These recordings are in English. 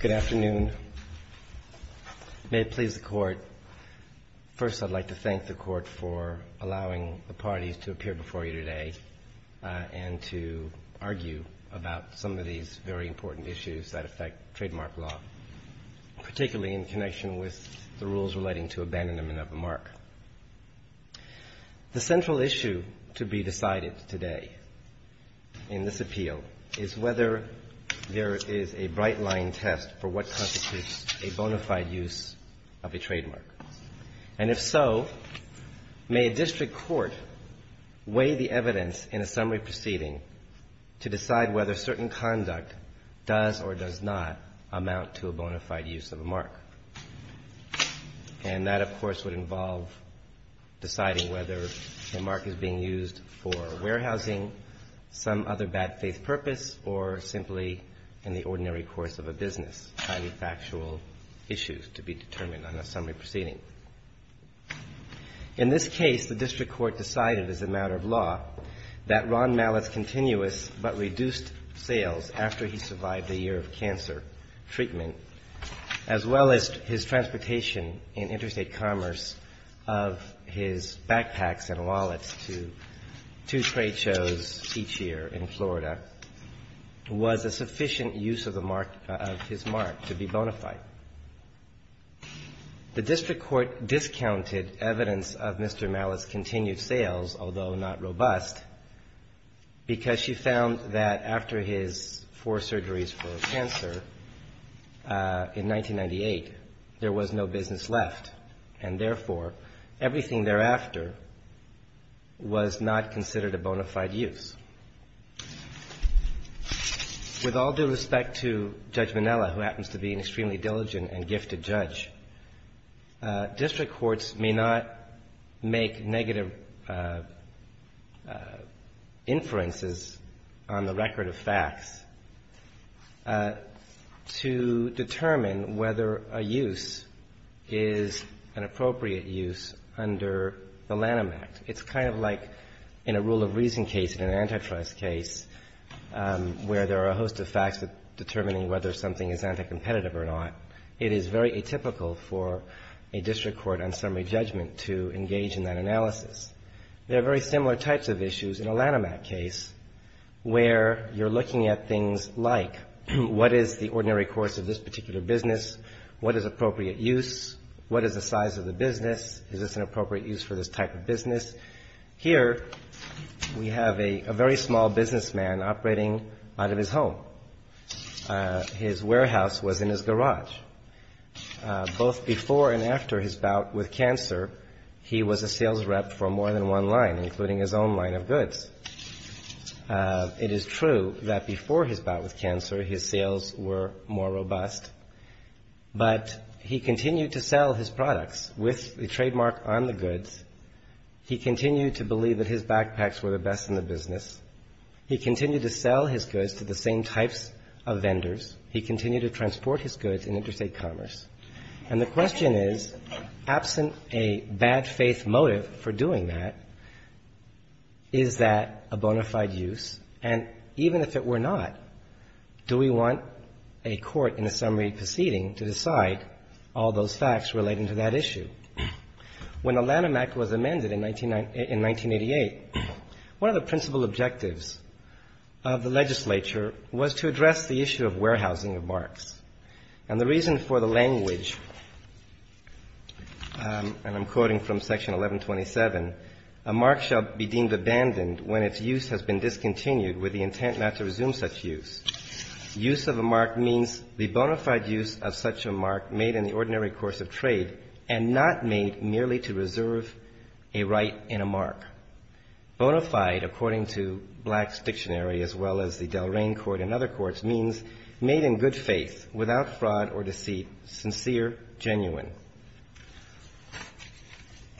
Good afternoon. May it please the Court, first I'd like to thank the Court for allowing the parties to appear before you today and to argue about some of these very important issues that affect trademark law, particularly in connection with the rules relating to abandonment of a mark. The central issue to be decided today in this appeal is whether there is a bright line test for what constitutes a bona fide use of a trademark. And if so, may a district court weigh the evidence in a summary proceeding to decide whether certain conduct does or does not amount to a bona fide use of a mark. And that, of course, would involve deciding whether a mark is being used for warehousing, some other bad faith purpose, or simply in the ordinary course of a business, highly factual issues to be determined on a summary proceeding. In this case, the district court decided as a matter of law that Ron Mallett's continuous but reduced sales after he survived a year of cancer treatment, as well as his transportation and interstate commerce of his backpacks and wallets to two trade shows each year in Florida, was a sufficient use of the mark of his mark to be bona fide. The district court discounted evidence of Mr. Mallett's continued sales, although not robust, because she found that after his four surgeries for cancer in 1998, there was no business left, and therefore, everything thereafter was not considered a bona fide use. With all due respect to Judge Minnella, who happens to be an extremely diligent and gifted judge, district courts may not make negative inferences on the record of facts to determine whether a use is an appropriate use under the Lanham Act. It's kind of like in a rule of reason case, in an antitrust case, where there are a host of facts determining whether something is anti-competitive or not. It is very atypical for a district court on summary judgment to engage in that analysis. There are very similar types of issues in a Lanham Act case, where you're looking at things like, what is the ordinary course of this particular business? What is appropriate use? What is the size of the business? Is this an appropriate use for this type of business? Here, we have a very small businessman operating out of his home. His warehouse was in his garage. Both before and after his bout with cancer, he was a sales rep for more than one line, including his own line of goods. It is true that before his bout with cancer, his sales were more robust, but he continued to sell his products with the trademark on the goods. He continued to believe that his backpacks were the best in the business. He continued to sell his goods to the same types of vendors. He continued to transport his goods in interstate commerce. And the question is, absent a bad faith motive for doing that, is that a bona fide use? And even if it were not, do we want a court in a summary proceeding to decide all those facts relating to that issue? When the Lanham Act was amended in 1988, one of the principal objectives of the legislature was to address the issue of warehousing of marks. And the reason for the language, and I'm quoting from Section 1127, a mark shall be deemed abandoned when its use has been discontinued with the intent not to resume such use. Use of a mark means the bona fide use of such a mark made in the ordinary course of trade and not made merely to reserve a right in a mark. Bona fide, according to Black's dictionary, as well as the Delrain court and other courts, means made in good faith, without fraud or deceit, sincere, genuine.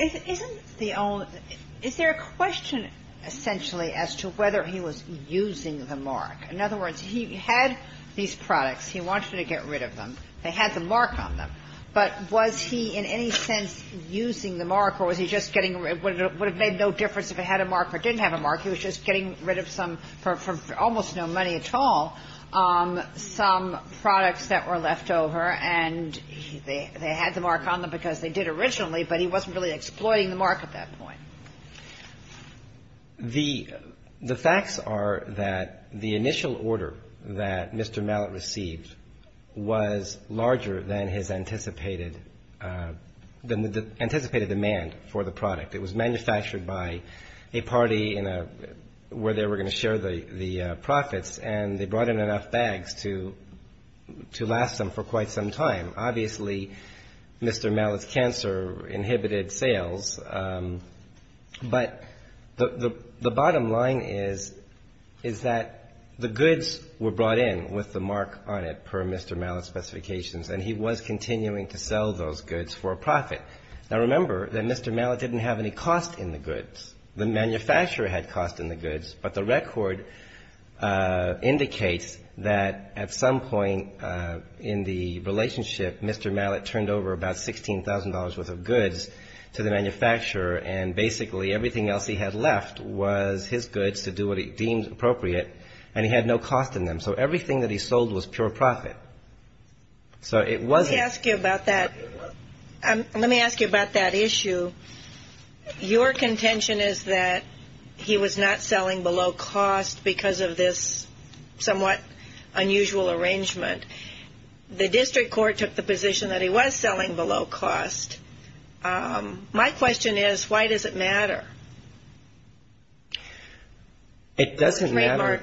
Is there a question, essentially, as to whether he was using the mark? In other words, he had these products. He wanted to get rid of them. They had the mark on them. But was he in any sense using the mark, or was he just getting rid of it? It would have made no difference if it had a mark or didn't have a mark. He was just getting rid of some, for almost no money at all, some products that were left over, and they had the mark on them because they did originally, but he wasn't really exploiting the mark at that point. The facts are that the initial order that Mr. Mallett received was larger than his anticipated demand for the product. It was manufactured by a party where they were going to share the profits, and they brought in enough bags to last them for quite some time. Obviously, Mr. Mallett's cancer inhibited sales. But the bottom line is that the goods were brought in with the mark on it, per Mr. Mallett's specifications, and he was continuing to sell those goods for a profit. Now, remember that Mr. Mallett didn't have any cost in the goods. The manufacturer had cost in the goods, but the record indicates that at some point in the relationship, Mr. Mallett turned over about $16,000 worth of goods to the manufacturer, and basically everything else he had left was his goods to do what he deemed appropriate, and he had no cost in them. So everything that he sold was pure profit. So it wasn't ---- Let me ask you about that. Let me ask you about that issue. Your contention is that he was not selling below cost because of this somewhat unusual arrangement. The district court took the position that he was selling below cost. My question is, why does it matter? It doesn't matter.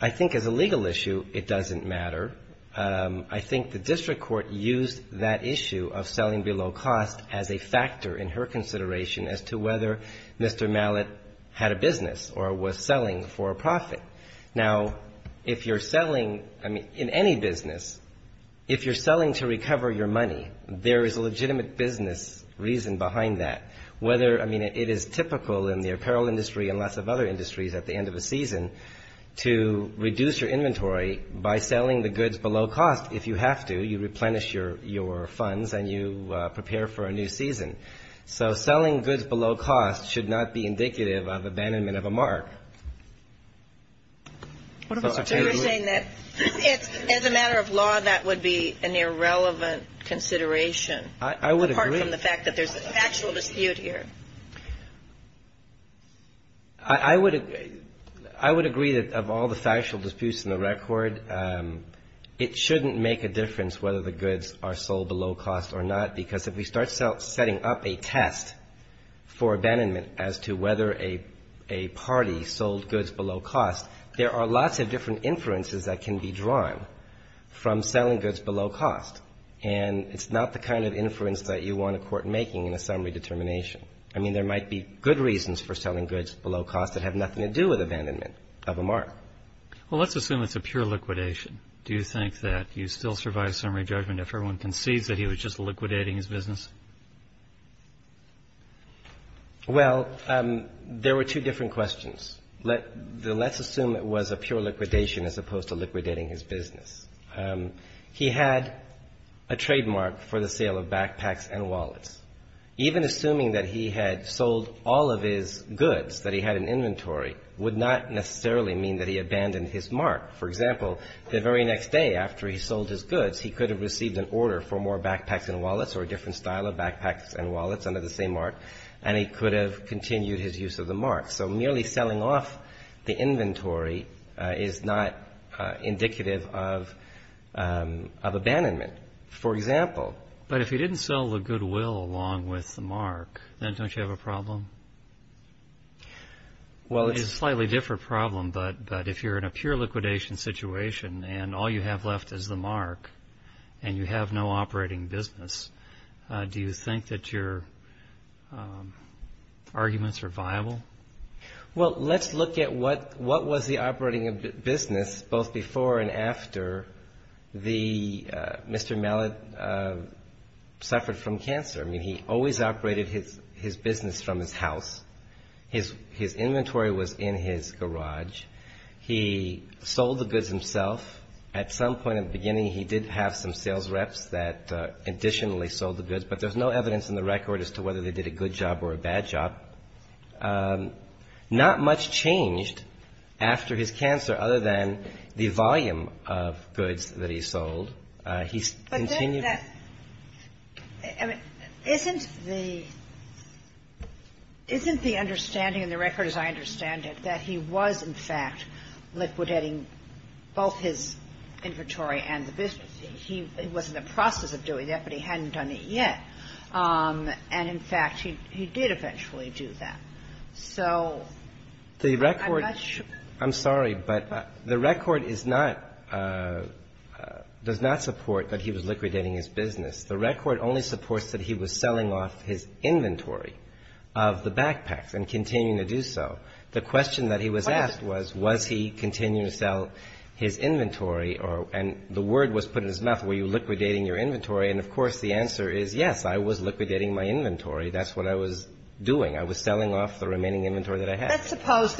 I think as a legal issue, it doesn't matter. I think the district court used that issue of selling below cost as a factor in her consideration as to whether Mr. Mallett had a business or was selling for a profit. Now, if you're selling, I mean, in any business, if you're selling to recover your money, there is a legitimate business reason behind that. Whether, I mean, it is typical in the apparel industry and lots of other industries at the end of a season to reduce your inventory by selling the goods below cost. If you have to, you replenish your funds and you prepare for a new season. So selling goods below cost should not be indicative of abandonment of a mark. As a matter of law, that would be an irrelevant consideration. I would agree. I would agree that of all the factual disputes in the record, it shouldn't make a difference whether the goods are sold below cost or not, because if we start setting up a test for abandonment as to whether a party sold goods below cost, there are lots of different inferences that can be drawn from selling goods below cost. And it's not the kind of inference that you want a court making in a summary determination. I mean, there might be good reasons for selling goods below cost that have nothing to do with abandonment of a mark. Well, let's assume it's a pure liquidation. Do you think that you still survive summary judgment if everyone concedes that he was just liquidating his business? Well, there were two different questions. Let's assume it was a pure liquidation as opposed to liquidating his business. He had a trademark for the sale of backpacks and wallets. Even assuming that he had sold all of his goods, that he had an inventory, would not necessarily mean that he abandoned his mark. For example, the very next day after he sold his goods, he could have received an order for more backpacks and wallets or a different style of backpacks and wallets under the same mark, and he could have continued his use of the mark. So merely selling off the inventory is not indicative of abandonment, for example. But if he didn't sell the goodwill along with the mark, then don't you have a problem? It's a slightly different problem, but if you're in a pure liquidation situation and all you have left is the mark and you have no operating business, do you think that your arguments are viable? Well, let's look at what was the operating business both before and after Mr. Mallet suffered from cancer. I mean, he always operated his business from his house. His inventory was in his garage. He sold the goods himself. At some point in the beginning, he did have some sales reps that additionally sold the goods, but there's no evidence in the record as to whether they did a good job or a bad job. Not much changed after his cancer other than the volume of goods that he sold. He continued to do that. But isn't the understanding in the record, as I understand it, that he was, in fact, liquidating both his inventory and the business? It wasn't a process of doing that, but he hadn't done it yet. And, in fact, he did eventually do that. So I'm not sure. I'm sorry, but the record does not support that he was liquidating his business. The record only supports that he was selling off his inventory of the backpacks and continuing to do so. The question that he was asked was, was he continuing to sell his inventory or – and the word was put in his mouth, were you liquidating your inventory? And, of course, the answer is, yes, I was liquidating my inventory. That's what I was doing. I was selling off the remaining inventory that I had. Let's suppose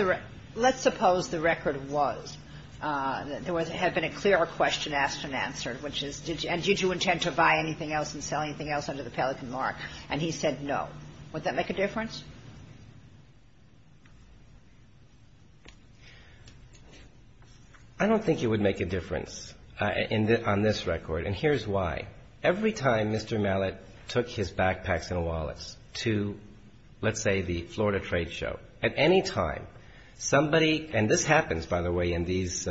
the record was – there had been a clearer question asked than answered, which is, did you – and did you intend to buy anything else and sell anything else under the Pelican Mark? And he said no. Would that make a difference? I don't think it would make a difference on this record, and here's why. Every time Mr. Mallett took his backpacks and wallets to, let's say, the Florida trade show, at any time, somebody – and this happens, by the way, in these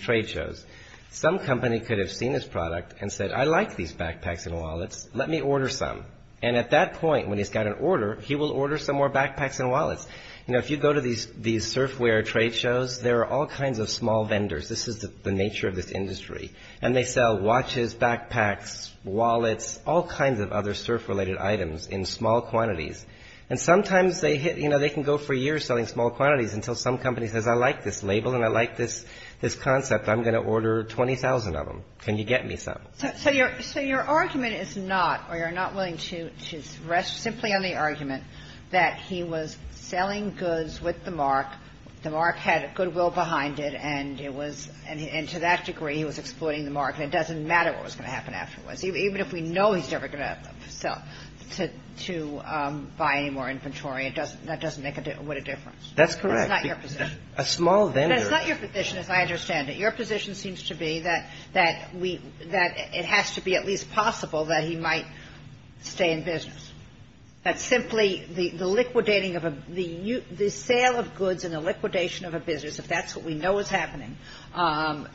trade shows. Some company could have seen his product and said, I like these backpacks and wallets. Let me order some. And at that point, when he's got an order, he will order some more backpacks and wallets. You know, if you go to these surfwear trade shows, there are all kinds of small vendors. This is the nature of this industry. And they sell watches, backpacks, wallets, all kinds of other surf-related items in small quantities. And sometimes they hit – you know, they can go for years selling small quantities until some company says, I like this label and I like this concept. I'm going to order 20,000 of them. Can you get me some? So your argument is not – or you're not willing to rest simply on the argument that he was selling goods with the mark, the mark had goodwill behind it, and it was – and to that degree, he was exploiting the mark. And it doesn't matter what was going to happen afterwards. Even if we know he's never going to sell – to buy any more inventory, that doesn't make a – wouldn't make a difference. That's correct. It's not your position. A small vendor – That's not your position, as I understand it. Your position seems to be that we – that it has to be at least possible that he might stay in business. That simply the liquidating of a – the sale of goods and the liquidation of a business, if that's what we know is happening,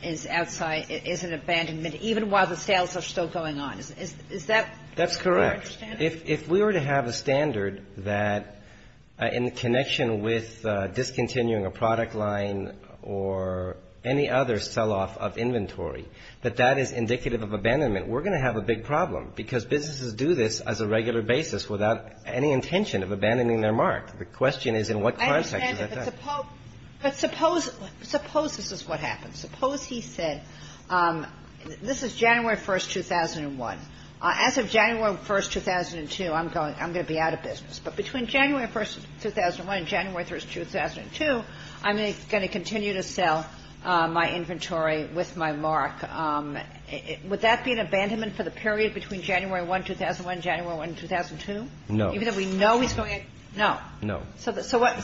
is outside – is an abandonment, even while the sales are still going on. Is that your understanding? That's correct. If we were to have a standard that, in connection with discontinuing a product line or any other sell-off of inventory, that that is indicative of abandonment, we're going to have a big problem, because businesses do this as a regular basis without any intention of abandoning their mark. The question is, in what context does that happen? I understand it. But suppose – suppose this is what happens. Suppose he said, this is January 1, 2001. As of January 1, 2002, I'm going – I'm going to be out of business. But between January 1, 2001 and January 1, 2002, I'm going to continue to sell my inventory with my mark. Would that be an abandonment for the period between January 1, 2001, January 1, 2002? No. Even though we know he's going to – no. No. So what –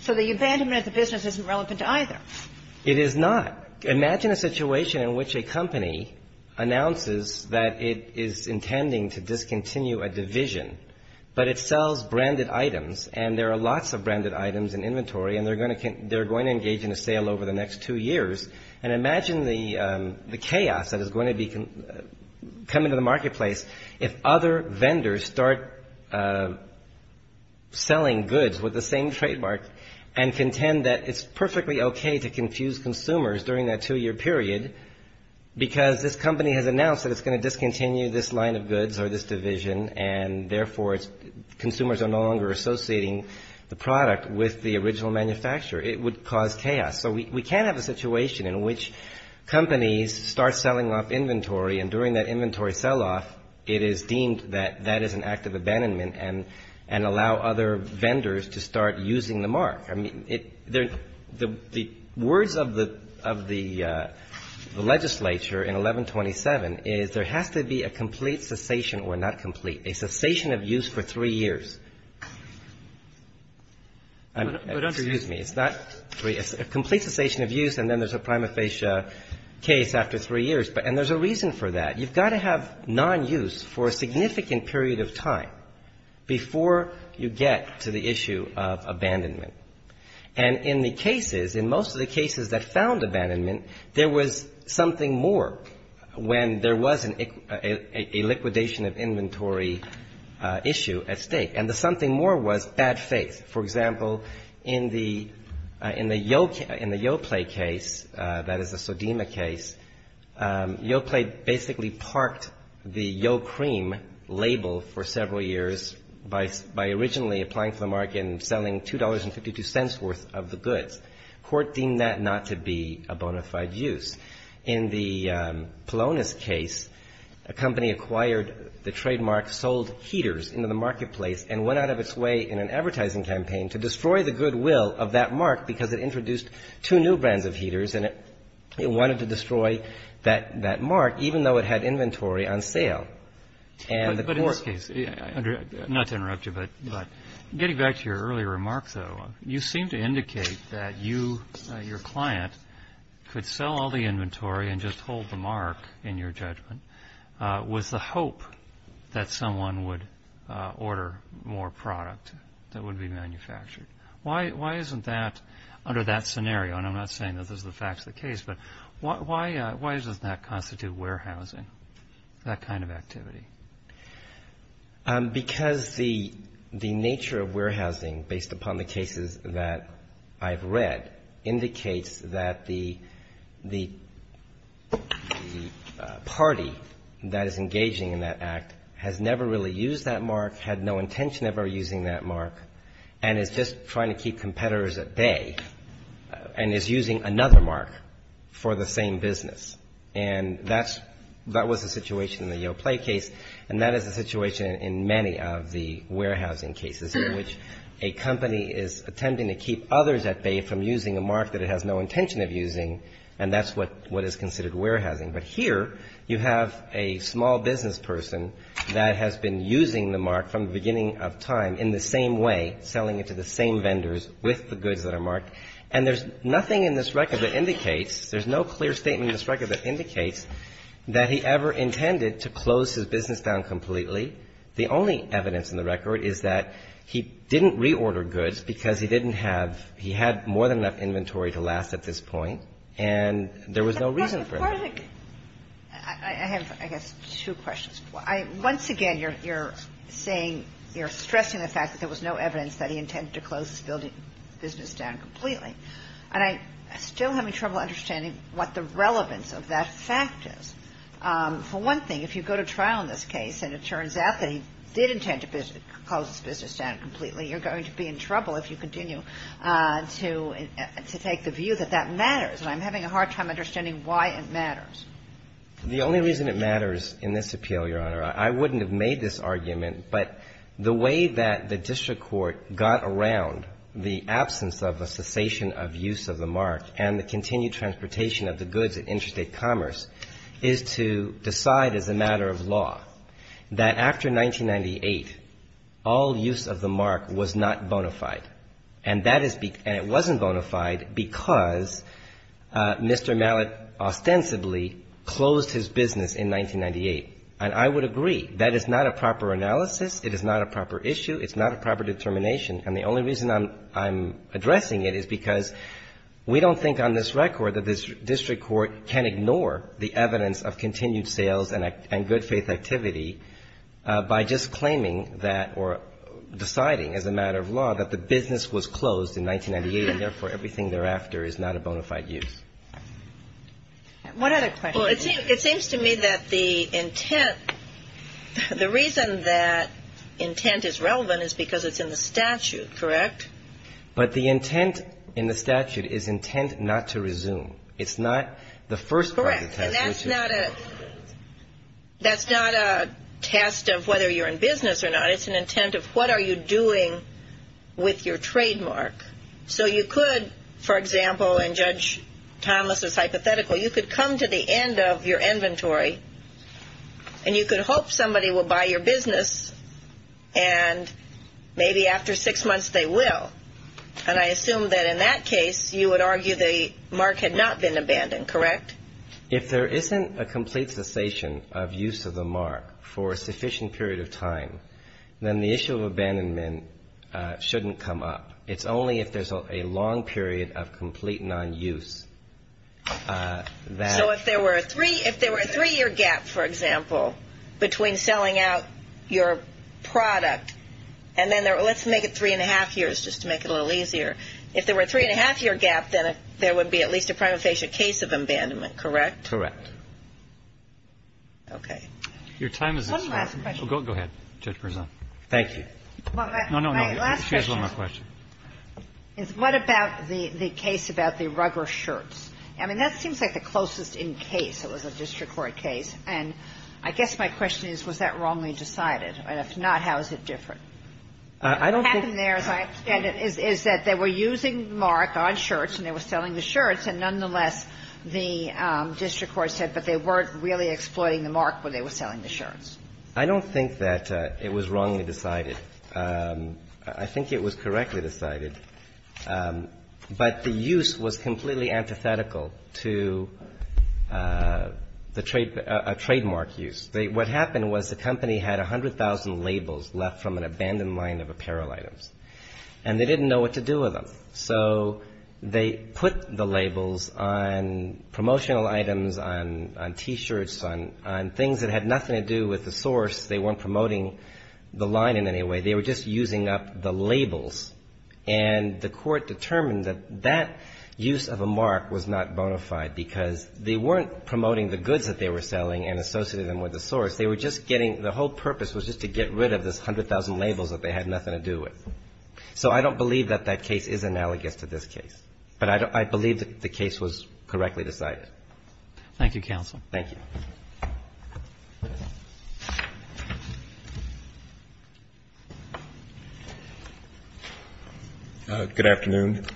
so the abandonment of the business isn't relevant to either. It is not. Imagine a situation in which a company announces that it is intending to discontinue a division, but it sells branded items, and there are lots of branded items in inventory, and they're going to engage in a sale over the next two years. And imagine the chaos that is going to be – come into the marketplace if other vendors start selling goods with the same trademark and contend that it's perfectly okay to confuse consumers during that two-year period because this company has announced that it's going to discontinue this line of goods or this division, and therefore consumers are no longer associating the product with the original manufacturer. It would cause chaos. So we can have a situation in which companies start selling off inventory, and during that inventory sell-off, it is deemed that that is an act of abandonment and allow other vendors to start using the mark. I mean, it – the words of the legislature in 1127 is there has to be a complete cessation – well, not complete, a cessation of use for three years. I mean, excuse me. It's not three. It's a complete cessation of use, and then there's a prima facie case after three years. And there's a reason for that. You've got to have non-use for a significant period of time before you get to the issue of abandonment. And in the cases, in most of the cases that found abandonment, there was something more when there was a liquidation of inventory issue at stake. And the something more was bad faith. For example, in the Yoplait case, that is the Sodema case, Yoplait basically parked the Yopream label for several years by originally applying for the mark and selling $2.52 worth of the goods. Court deemed that not to be a bona fide use. In the Polonus case, a company acquired the trademark, sold heaters into the marketplace, and went out of its way in an advertising campaign to destroy the goodwill of that mark because it introduced two new brands of heaters, and it wanted to destroy that mark, even though it had inventory on sale. And the court ---- But in this case, not to interrupt you, but getting back to your earlier remarks, though, you seem to indicate that you, your client, could sell all the inventory and just hold the mark, in your judgment, with the hope that someone would order more product that would be manufactured. Why isn't that under that scenario? And I'm not saying that this is the fact of the case, but why doesn't that constitute warehousing, that kind of activity? Because the nature of warehousing, based upon the cases that I've read, indicates that the party that is engaging in that act has never really used that mark, had no intention of ever using that mark, and is just trying to keep competitors at bay and is using another mark for the same business. And that was the situation in the Yale Play case, and that is the situation in many of the warehousing cases, in which a company is attempting to keep others at bay from using a mark that it has no intention of using, and that's what is considered warehousing. But here you have a small business person that has been using the mark from the beginning of time, in the same way, selling it to the same vendors with the goods that are marked. And there's nothing in this record that indicates, there's no clear statement in this record that indicates that he ever intended to close his business down completely. The only evidence in the record is that he didn't reorder goods because he didn't have, he had more than enough inventory to last at this point, and there was no reason for it. I have, I guess, two questions. Once again, you're saying, you're stressing the fact that there was no evidence that he intended to close his business down completely. And I'm still having trouble understanding what the relevance of that fact is. For one thing, if you go to trial in this case and it turns out that he did intend to close his business down completely, you're going to be in trouble if you continue to take the view that that matters. And I'm having a hard time understanding why it matters. The only reason it matters in this appeal, Your Honor, I wouldn't have made this argument, but the way that the district court got around the absence of a cessation of use of the mark and the continued transportation of the goods at Interstate Commerce is to decide as a matter of law that after 1998, all use of the mark was not bona fide. And that is, and it wasn't bona fide because Mr. Mallett ostensibly closed his business in 1998. And I would agree. That is not a proper analysis. It is not a proper issue. It's not a proper determination. And the only reason I'm addressing it is because we don't think on this record that this district court can ignore the evidence of continued sales and good faith activity by just claiming that or deciding as a matter of law that the business was closed in 1998 and, therefore, everything thereafter is not a bona fide use. What other questions? Well, it seems to me that the intent, the reason that intent is relevant is because it's in the statute, correct? But the intent in the statute is intent not to resume. It's not the first part of the statute. Correct. And that's not a test of whether you're in business or not. It's an intent of what are you doing with your trademark. So you could, for example, in Judge Thomas's hypothetical, you could come to the end of your inventory and you could hope somebody will buy your business and maybe after six months they will. And I assume that in that case you would argue the mark had not been abandoned, correct? If there isn't a complete cessation of use of the mark for a sufficient period of time, then the issue of abandonment shouldn't come up. It's only if there's a long period of complete non-use. So if there were a three-year gap, for example, between selling out your product and then let's make it three-and-a-half years just to make it a little easier. If there were a three-and-a-half-year gap, then there would be at least a prima facie case of abandonment, correct? Correct. Okay. Your time is up. One last question. Go ahead. Thank you. Last question. Here's one more question. What about the case about the rugger shirts? I mean, that seems like the closest in case. It was a district court case. And I guess my question is, was that wrongly decided? If not, how is it different? I don't think they were using the mark on shirts and they were selling the shirts. And nonetheless, the district court said, but they weren't really exploiting the mark when they were selling the shirts. I don't think that it was wrongly decided. I think it was correctly decided. But the use was completely antithetical to a trademark use. What happened was the company had 100,000 labels left from an abandoned line of apparel items. And they didn't know what to do with them. So they put the labels on promotional items, on T-shirts, on things that had nothing to do with the source. They weren't promoting the line in any way. They were just using up the labels. And the court determined that that use of a mark was not bona fide because they weren't promoting the goods that they were selling and associating them with the source. They were just getting the whole purpose was just to get rid of this 100,000 labels that they had nothing to do with. So I don't believe that that case is analogous to this case. But I believe the case was correctly decided. Thank you, counsel. Thank you. Good afternoon.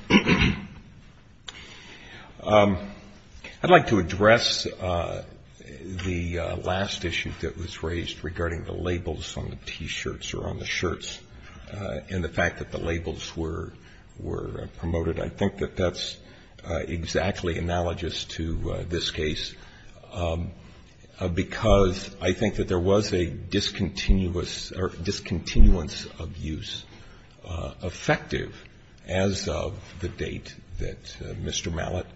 I'd like to address the last issue that was raised regarding the labels on the T-shirts or on the shirts and the fact that the labels were promoted. I think that that's exactly analogous to this case because I think that there was a discontinuous or discontinuance of use effective as of the date that Mr. Mallett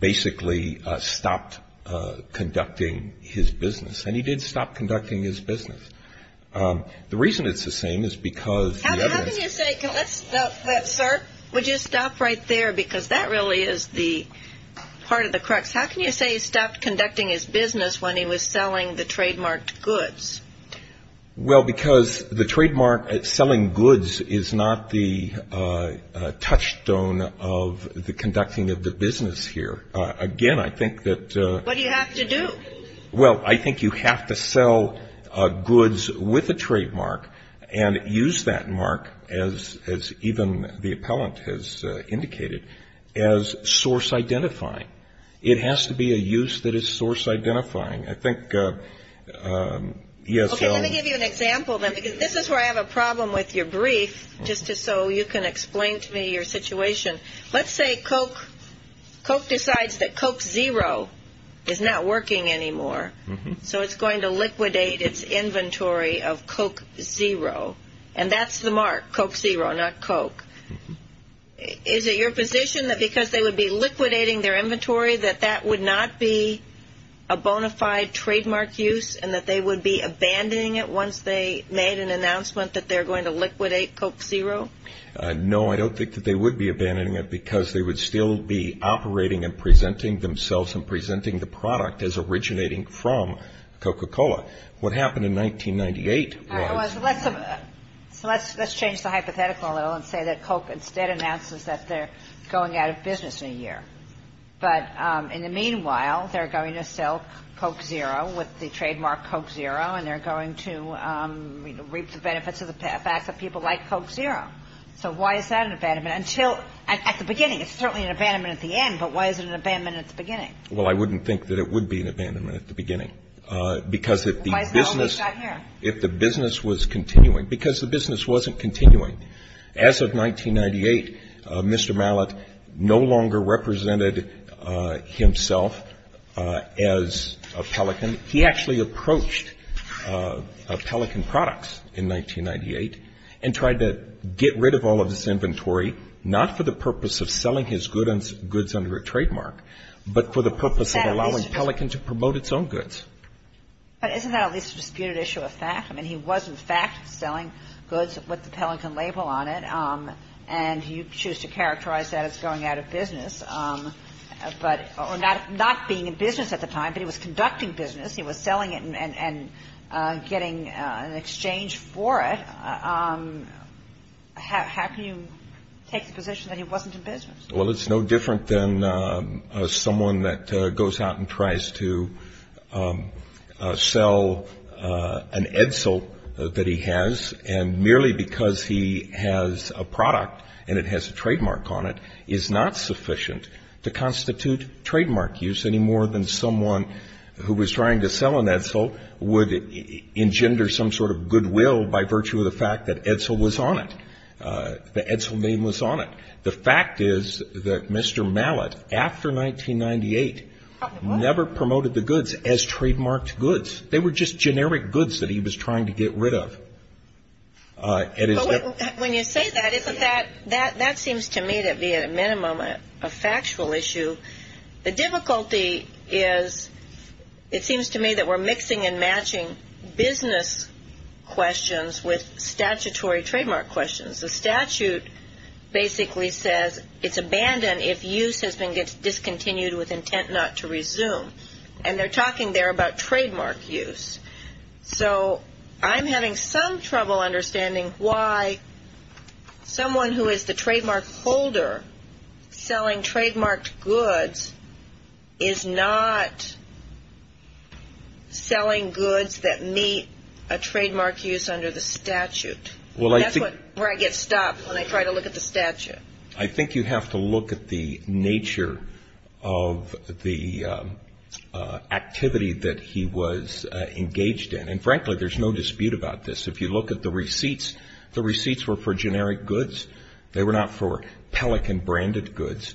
basically stopped conducting his business. And he did stop conducting his business. The reason it's the same is because the evidence — How can you say — let's stop that, sir. Would you stop right there? Because that really is the part of the crux. How can you say he stopped conducting his business when he was selling the trademarked goods? Well, because the trademark selling goods is not the touchstone of the conducting of the business here. Again, I think that — What do you have to do? Well, I think you have to sell goods with a trademark and use that mark, as even the appellant has indicated, as source identifying. It has to be a use that is source identifying. I think — Okay, let me give you an example, then, because this is where I have a problem with your brief, just so you can explain to me your situation. Let's say Coke decides that Coke Zero is not working anymore, so it's going to liquidate its inventory of Coke Zero. And that's the mark, Coke Zero, not Coke. Is it your position that because they would be liquidating their inventory, that that would not be a bona fide trademark use, and that they would be abandoning it once they made an announcement that they're going to liquidate Coke Zero? No, I don't think that they would be abandoning it, because they would still be operating and presenting themselves and presenting the product as originating from Coca-Cola. What happened in 1998 was — All right, so let's change the hypothetical a little and say that Coke instead announces that they're going out of business in a year. But in the meanwhile, they're going to sell Coke Zero with the trademark Coke Zero, and they're going to reap the benefits of the fact that people like Coke Zero. So why is that an abandonment? Until — at the beginning, it's certainly an abandonment at the end, but why is it an abandonment at the beginning? Well, I wouldn't think that it would be an abandonment at the beginning, because if the business — Why is it always not here? If the business was continuing — because the business wasn't continuing. And he actually approached Pelican Products in 1998 and tried to get rid of all of this inventory, not for the purpose of selling his goods under a trademark, but for the purpose of allowing Pelican to promote its own goods. But isn't that at least a disputed issue of fact? I mean, he was, in fact, selling goods with the Pelican label on it, and you choose to characterize that as going out of business, or not being in business at the time, but he was conducting business. He was selling it and getting an exchange for it. How can you take the position that he wasn't in business? Well, it's no different than someone that goes out and tries to sell an Edsel that he has, and merely because he has a product and it has a trademark on it, is not sufficient to constitute trademark use, any more than someone who was trying to sell an Edsel would engender some sort of goodwill by virtue of the fact that Edsel was on it, the Edsel name was on it. The fact is that Mr. Mallett, after 1998, never promoted the goods as trademarked goods. They were just generic goods that he was trying to get rid of. When you say that, that seems to me to be at a minimum a factual issue. The difficulty is it seems to me that we're mixing and matching business questions with statutory trademark questions. The statute basically says it's abandoned if use has been discontinued with intent not to resume, and they're talking there about trademark use. So I'm having some trouble understanding why someone who is the trademark holder selling trademarked goods is not selling goods that meet a trademark use under the statute. That's where I get stopped when I try to look at the statute. I think you have to look at the nature of the activity that he was engaged in, and frankly there's no dispute about this. If you look at the receipts, the receipts were for generic goods. They were not for Pelican branded goods.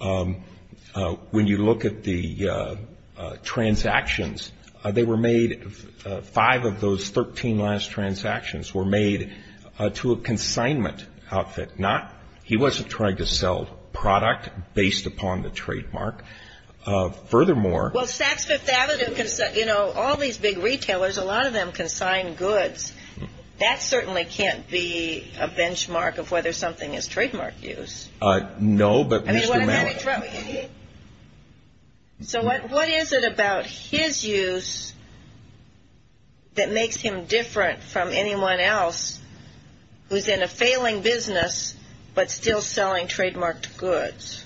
When you look at the transactions, they were made, five of those 13 last transactions were made to a consignment outfit, not he wasn't trying to sell product based upon the trademark. Furthermore... Well, Saks Fifth Avenue, you know, all these big retailers, a lot of them consign goods. That certainly can't be a benchmark of whether something is trademark use. No, but... So what is it about his use that makes him different from anyone else who is in a failing business but still selling trademarked goods?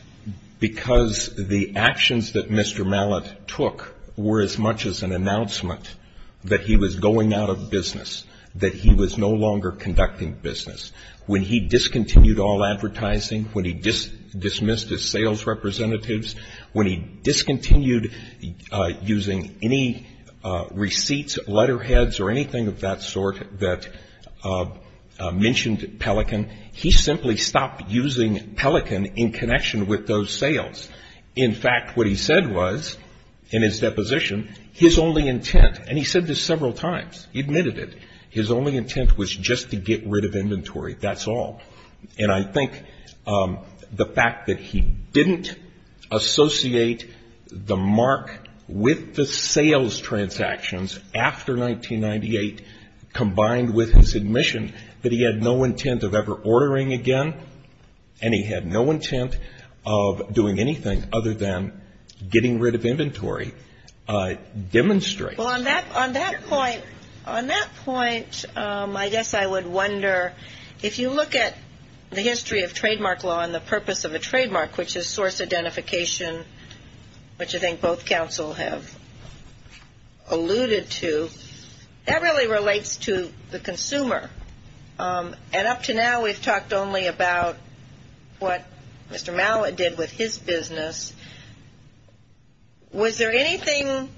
Because the actions that Mr. Mallett took were as much as an announcement that he was going out of business, that he was no longer conducting business. When he discontinued all advertising, when he dismissed his sales representatives, when he discontinued using any receipts, letterheads, or anything of that sort that mentioned Pelican, he simply stopped using Pelican in connection with those sales. In fact, what he said was, in his deposition, his only intent, and he said this several times, he admitted it, his only intent was just to get rid of inventory, that's all. And I think the fact that he didn't associate the mark with the sales transactions after 1998, combined with his admission that he had no intent of ever ordering again, and he had no intent of doing anything other than getting rid of inventory, demonstrates... Well, on that point, I guess I would wonder, if you look at the history of trademark law and the purpose of a trademark, which is source identification, which I think both counsel have alluded to, that really relates to the consumer. And up to now, we've talked only about what Mr. Mallett did with his business. Was there anything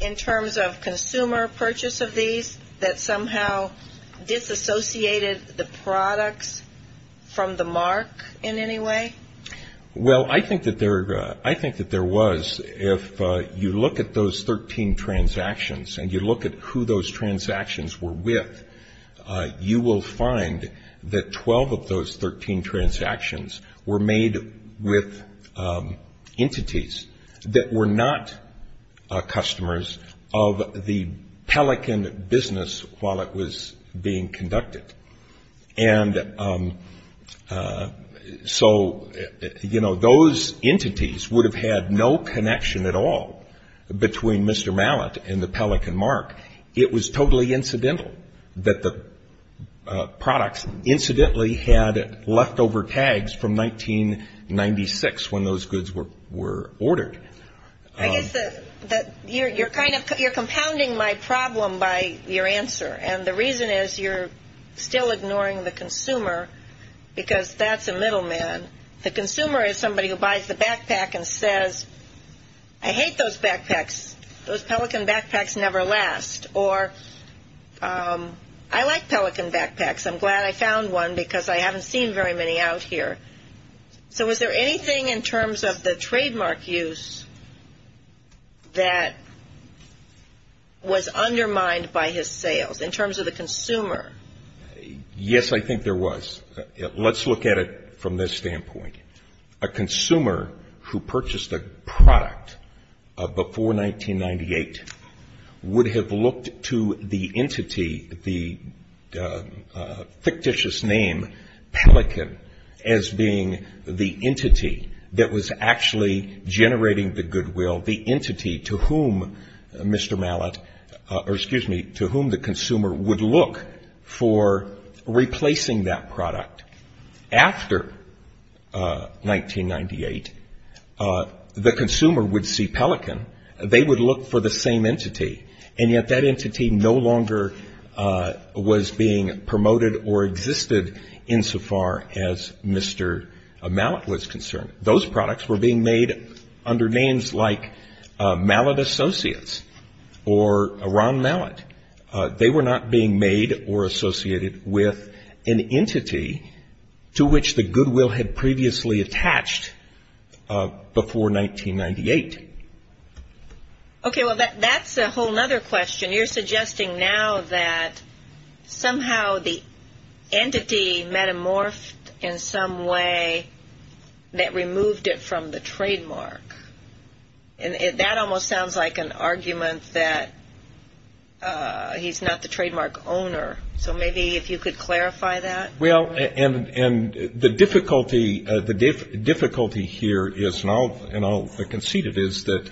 in terms of consumer purchase of these that somehow disassociated the products from the mark in any way? Well, I think that there was. If you look at those 13 transactions and you look at who those transactions were with, you will find that 12 of those 13 transactions were made with entities that were not customers of the Pelican business while it was being conducted. And so, you know, those entities would have had no connection at all between Mr. Mallett and the Pelican mark. It was totally incidental that the products incidentally had leftover tags from 1996 when those goods were ordered. I guess that you're kind of compounding my problem by your answer, and the reason is you're still ignoring the consumer because that's a middleman. The consumer is somebody who buys the backpack and says, I hate those backpacks. Those Pelican backpacks never last. Or I like Pelican backpacks. I'm glad I found one because I haven't seen very many out here. So was there anything in terms of the trademark use that was undermined by his sales in terms of the consumer? Yes, I think there was. Let's look at it from this standpoint. A consumer who purchased a product before 1998 would have looked to the entity, the fictitious name Pelican, as being the entity that was actually generating the goodwill, the entity to whom Mr. Mallett, to whom the consumer would look for replacing that product. After 1998, the consumer would see Pelican. They would look for the same entity, and yet that entity no longer was being promoted or existed insofar as Mr. Mallett was concerned. Those products were being made under names like Mallett Associates or Ron Mallett. They were not being made or associated with an entity to which the goodwill had previously attached before 1998. Okay, well, that's a whole other question. You're suggesting now that somehow the entity metamorphed in some way that removed it from the trademark. And that almost sounds like an argument that he's not the trademark owner. So maybe if you could clarify that. Well, and the difficulty here is, and I'll concede it, is that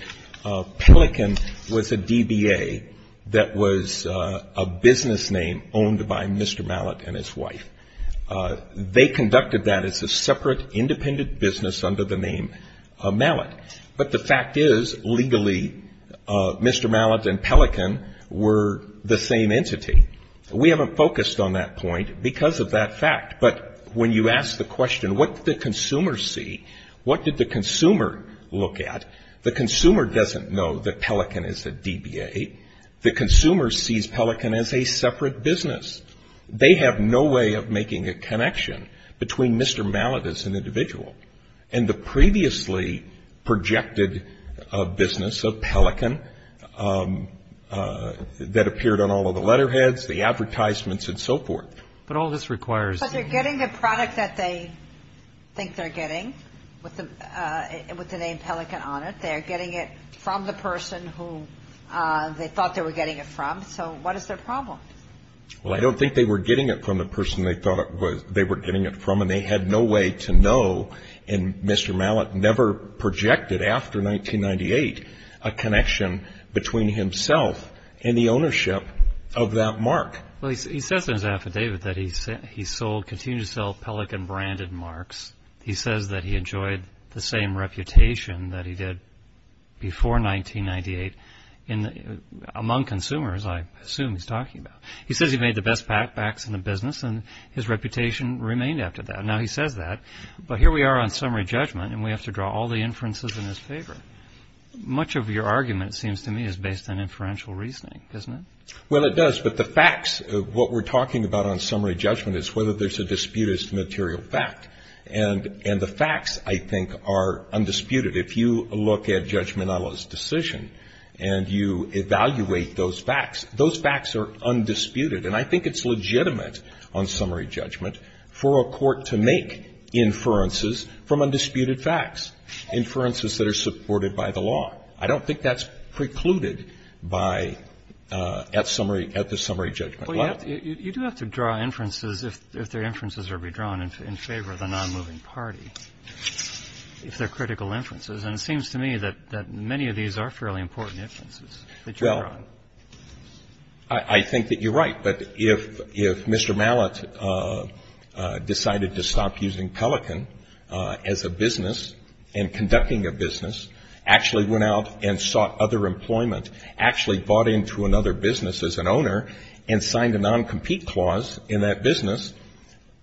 Pelican was a DBA that was a business name owned by Mr. Mallett and his wife. They conducted that as a separate independent business under the name of Mallett. But the fact is, legally, Mr. Mallett and Pelican were the same entity. We haven't focused on that point because of that fact. But when you ask the question, what did the consumer see, what did the consumer look at, the consumer doesn't know that Pelican is a DBA. The consumer sees Pelican as a separate business. They have no way of making a connection between Mr. Mallett as an individual. And the previously projected business of Pelican that appeared on all of the letterheads, the advertisements, and so forth. But all this requires. But they're getting the product that they think they're getting with the name Pelican on it. They're getting it from the person who they thought they were getting it from. So what is their problem? Well, I don't think they were getting it from the person they thought they were getting it from. And they had no way to know. And Mr. Mallett never projected, after 1998, a connection between himself and the ownership of that mark. Well, he says in his affidavit that he sold, continued to sell Pelican-branded marks. He says that he enjoyed the same reputation that he did before 1998 among consumers, I assume he's talking about. He says he made the best backs in the business, and his reputation remained after that. Now, he says that. But here we are on summary judgment, and we have to draw all the inferences in his favor. Much of your argument, it seems to me, is based on inferential reasoning, isn't it? Well, it does. But the facts of what we're talking about on summary judgment is whether there's a disputed material fact. And the facts, I think, are undisputed. If you look at Judge Minella's decision and you evaluate those facts, those facts are undisputed. And I think it's legitimate on summary judgment for a court to make inferences from undisputed facts, inferences that are supported by the law. I don't think that's precluded by at the summary judgment level. But you do have to draw inferences if their inferences are redrawn in favor of a nonmoving party, if they're critical inferences. And it seems to me that many of these are fairly important inferences that you're drawing. Well, I think that you're right. But if Mr. Mallett decided to stop using Pelican as a business and conducting a business, actually went out and sought other employment, actually bought into another business as an owner and signed a noncompete clause in that business,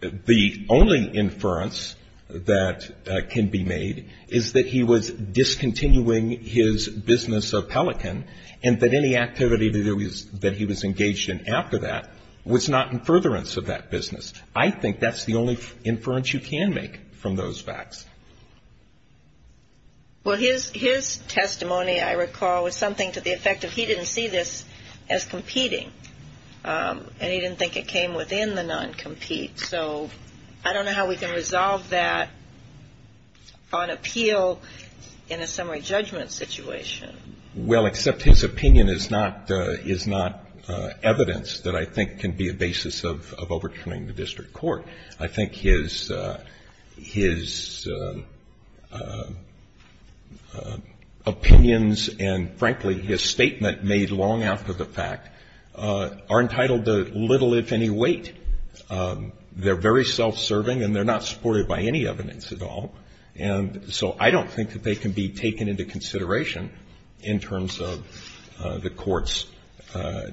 the only inference that can be made is that he was discontinuing his business of Pelican, and that any activity that he was engaged in after that was not in furtherance of that business. I think that's the only inference you can make from those facts. Well, his testimony, I recall, was something to the effect of he didn't see this as competing, and he didn't think it came within the noncompete. So I don't know how we can resolve that on appeal in a summary judgment situation. Well, except his opinion is not evidence that I think can be a basis of overturning the district court. I think his opinions and, frankly, his statement made long after the fact are entitled to little, if any, weight. They're very self-serving, and they're not supported by any evidence at all. And so I don't think that they can be taken into consideration in terms of the Court's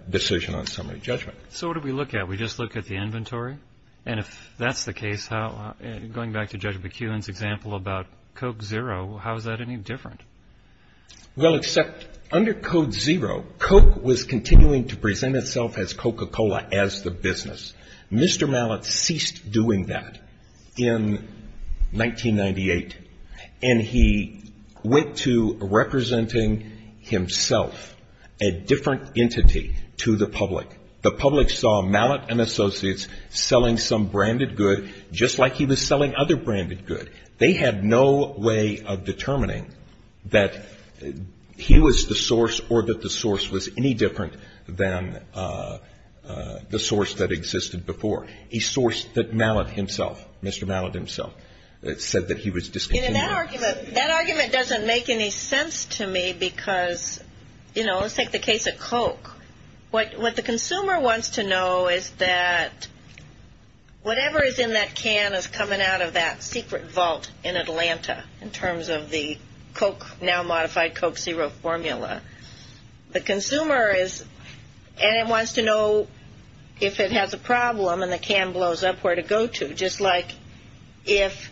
decision on summary judgment. So what do we look at? We just look at the inventory? And if that's the case, going back to Judge McKeown's example about Coke Zero, how is that any different? Well, except under Coke Zero, Coke was continuing to present itself as Coca-Cola as the business. Mr. Mallett ceased doing that in 1998, and he went to representing himself, a different entity, to the public. The public saw Mallett and associates selling some branded good, just like he was selling other branded good. They had no way of determining that he was the source or that the source was any different than the source that existed before. He sourced that Mallett himself, Mr. Mallett himself, said that he was discontinuing. That argument doesn't make any sense to me because, you know, let's take the case of Coke. What the consumer wants to know is that whatever is in that can is coming out of that secret vault in Atlanta, in terms of the Coke now modified Coke Zero formula. The consumer is, and it wants to know if it has a problem and the can blows up, where to go to. Just like if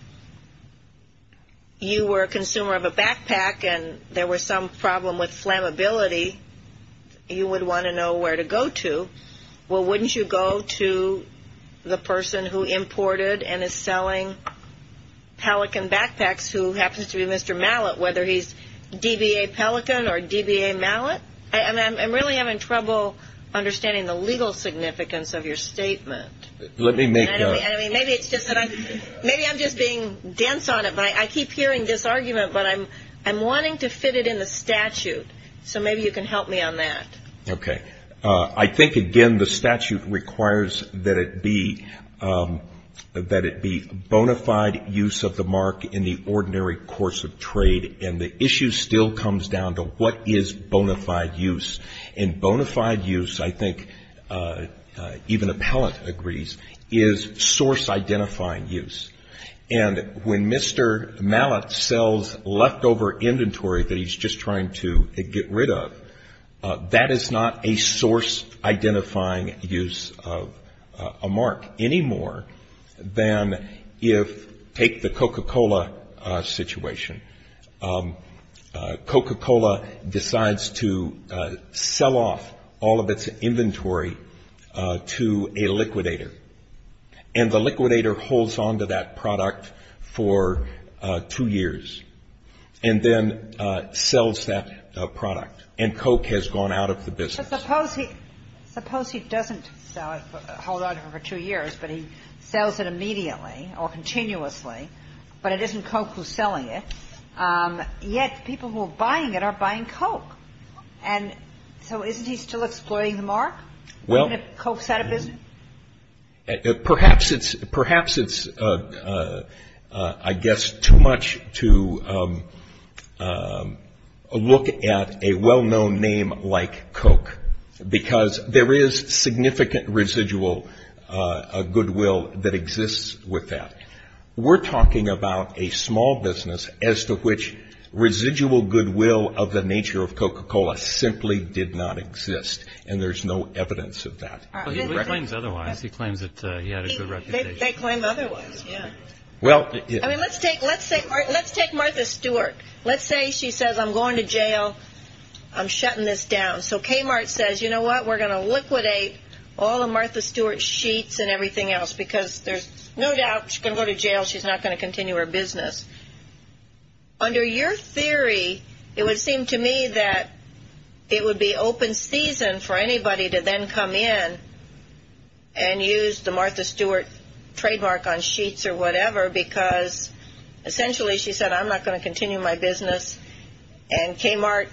you were a consumer of a backpack and there was some problem with flammability, you would want to know where to go to. Well, wouldn't you go to the person who imported and is selling Pelican backpacks, who happens to be Mr. Mallett, whether he's DBA Pelican or DBA Mallett? I'm really having trouble understanding the legal significance of your statement. Let me make a. Maybe I'm just being dense on it. I keep hearing this argument, but I'm wanting to fit it in the statute. So maybe you can help me on that. OK, I think, again, the statute requires that it be that it be bona fide use of the mark in the ordinary course of trade. And the issue still comes down to what is bona fide use and bona fide use. I think even a pellet agrees is source identifying use. And when Mr. Mallett sells leftover inventory that he's just trying to get rid of, that is not a source identifying use of a mark anymore than if take the Coca-Cola situation. Coca-Cola decides to sell off all of its inventory to a liquidator. And the liquidator holds on to that product for two years and then sells that product. And Coke has gone out of the business. Suppose he doesn't hold on to it for two years, but he sells it immediately or continuously. But it isn't Coke who's selling it. Yet people who are buying it are buying Coke. And so isn't he still exploiting the mark? Well, perhaps it's I guess too much to look at a well-known name like Coke because there is significant residual goodwill that exists with that. We're talking about a small business as to which residual goodwill of the nature of Coca-Cola simply did not exist. And there's no evidence of that. He claims otherwise. He claims that he had a good reputation. They claim otherwise, yeah. Well, let's take Martha Stewart. Let's say she says, I'm going to jail, I'm shutting this down. So Kmart says, you know what, we're going to liquidate all of Martha Stewart's sheets and everything else because there's no doubt she's going to go to jail, she's not going to continue her business. Under your theory, it would seem to me that it would be open season for anybody to then come in and use the Martha Stewart trademark on sheets or whatever because essentially she said I'm not going to continue my business and Kmart,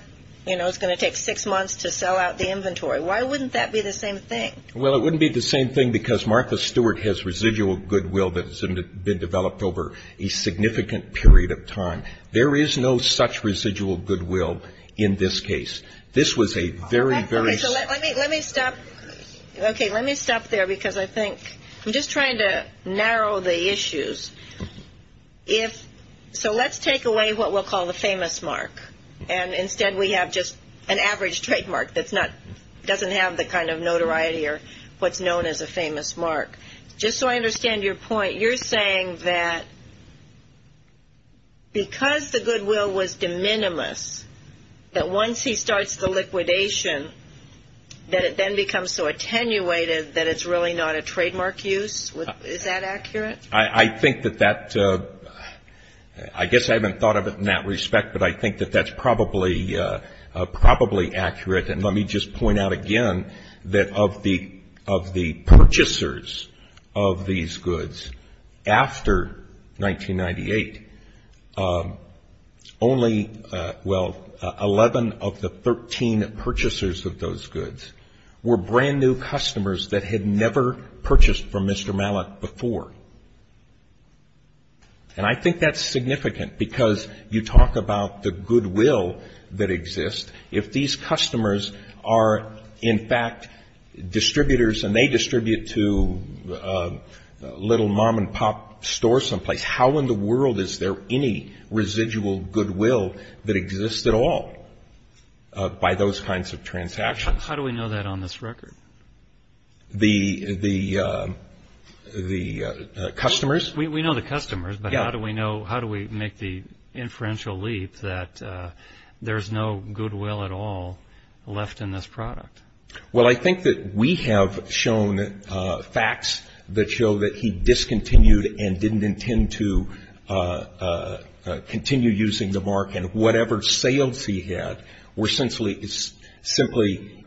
you know, is going to take six months to sell out the inventory. Why wouldn't that be the same thing? Well, it wouldn't be the same thing because Martha Stewart has residual goodwill that has been developed over a significant period of time. There is no such residual goodwill in this case. This was a very, very – Let me stop there because I think – I'm just trying to narrow the issues. So let's take away what we'll call the famous mark and instead we have just an average trademark that doesn't have the kind of notoriety or what's known as a famous mark. Just so I understand your point, you're saying that because the goodwill was de minimis, that once he starts the liquidation that it then becomes so attenuated that it's really not a trademark use? Is that accurate? I think that that – I guess I haven't thought of it in that respect, but I think that that's probably accurate. And let me just point out again that of the purchasers of these goods after 1998, only, well, 11 of the 13 purchasers of those goods were brand-new customers that had never purchased from Mr. Mallet before. And I think that's significant because you talk about the goodwill that exists. If these customers are, in fact, distributors and they distribute to little mom-and-pop stores someplace, how in the world is there any residual goodwill that exists at all by those kinds of transactions? How do we know that on this record? The customers? We know the customers, but how do we make the inferential leap that there's no goodwill at all left in this product? Well, I think that we have shown facts that show that he discontinued and didn't intend to continue using the mark, and whatever sales he had were simply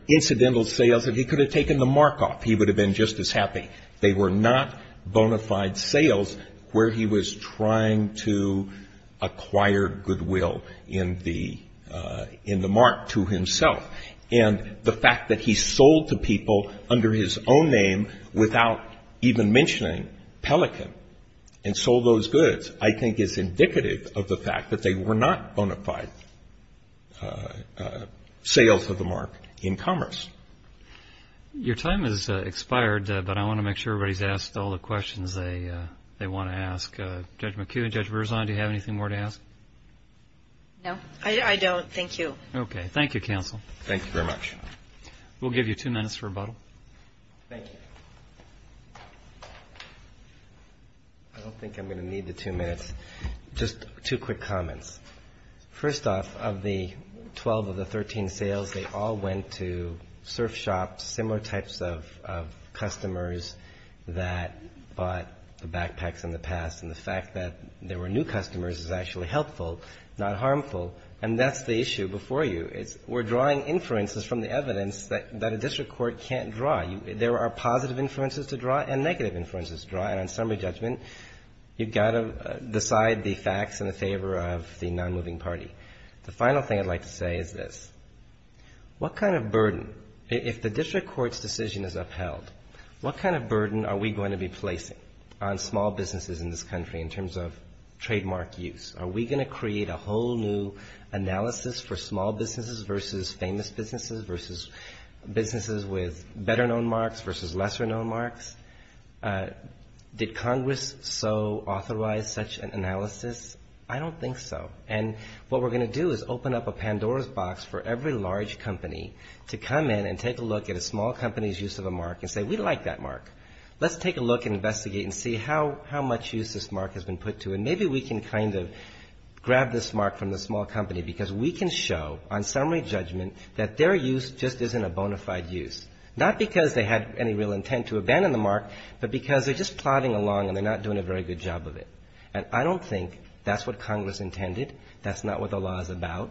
incidental sales that he could have taken the mark off. He would have been just as happy. They were not bona fide sales where he was trying to acquire goodwill in the mark to himself. And the fact that he sold to people under his own name without even mentioning Pelican and sold those goods, I think is indicative of the fact that they were not bona fide sales of the mark in commerce. Your time has expired, but I want to make sure everybody's asked all the questions they want to ask. Judge McHugh, Judge Berzon, do you have anything more to ask? No, I don't. Thank you. Okay. Thank you, counsel. Thank you very much. We'll give you two minutes for rebuttal. Thank you. I don't think I'm going to need the two minutes. Just two quick comments. First off, of the 12 of the 13 sales, they all went to surf shops, similar types of customers that bought the backpacks in the past. And the fact that there were new customers is actually helpful, not harmful. And that's the issue before you. We're drawing inferences from the evidence that a district court can't draw. There are positive inferences to draw and negative inferences to draw. And on summary judgment, you've got to decide the facts in the favor of the non-moving party. The final thing I'd like to say is this. What kind of burden, if the district court's decision is upheld, what kind of burden are we going to be placing on small businesses in this country in terms of trademark use? Are we going to create a whole new analysis for small businesses versus famous businesses, versus businesses with better-known marks versus lesser-known marks? Did Congress so authorize such an analysis? I don't think so. And what we're going to do is open up a Pandora's box for every large company to come in and take a look at a small company's use of a mark and say, we like that mark. Let's take a look and investigate and see how much use this mark has been put to. And maybe we can kind of grab this mark from the small company because we can show, on summary judgment, that their use just isn't a bona fide use, not because they had any real intent to abandon the mark, but because they're just plodding along and they're not doing a very good job of it. And I don't think that's what Congress intended. That's not what the law is about.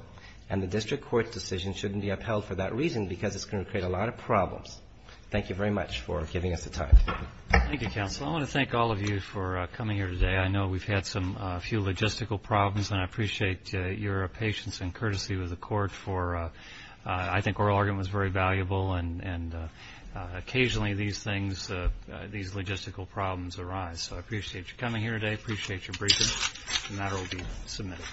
And the district court's decision shouldn't be upheld for that reason because it's going to create a lot of problems. Thank you very much for giving us the time. Roberts. Thank you, counsel. I want to thank all of you for coming here today. I know we've had a few logistical problems, and I appreciate your patience and courtesy with the court. I think oral argument was very valuable, and occasionally these logistical problems arise. So I appreciate you coming here today. I appreciate your briefing. The matter will be submitted.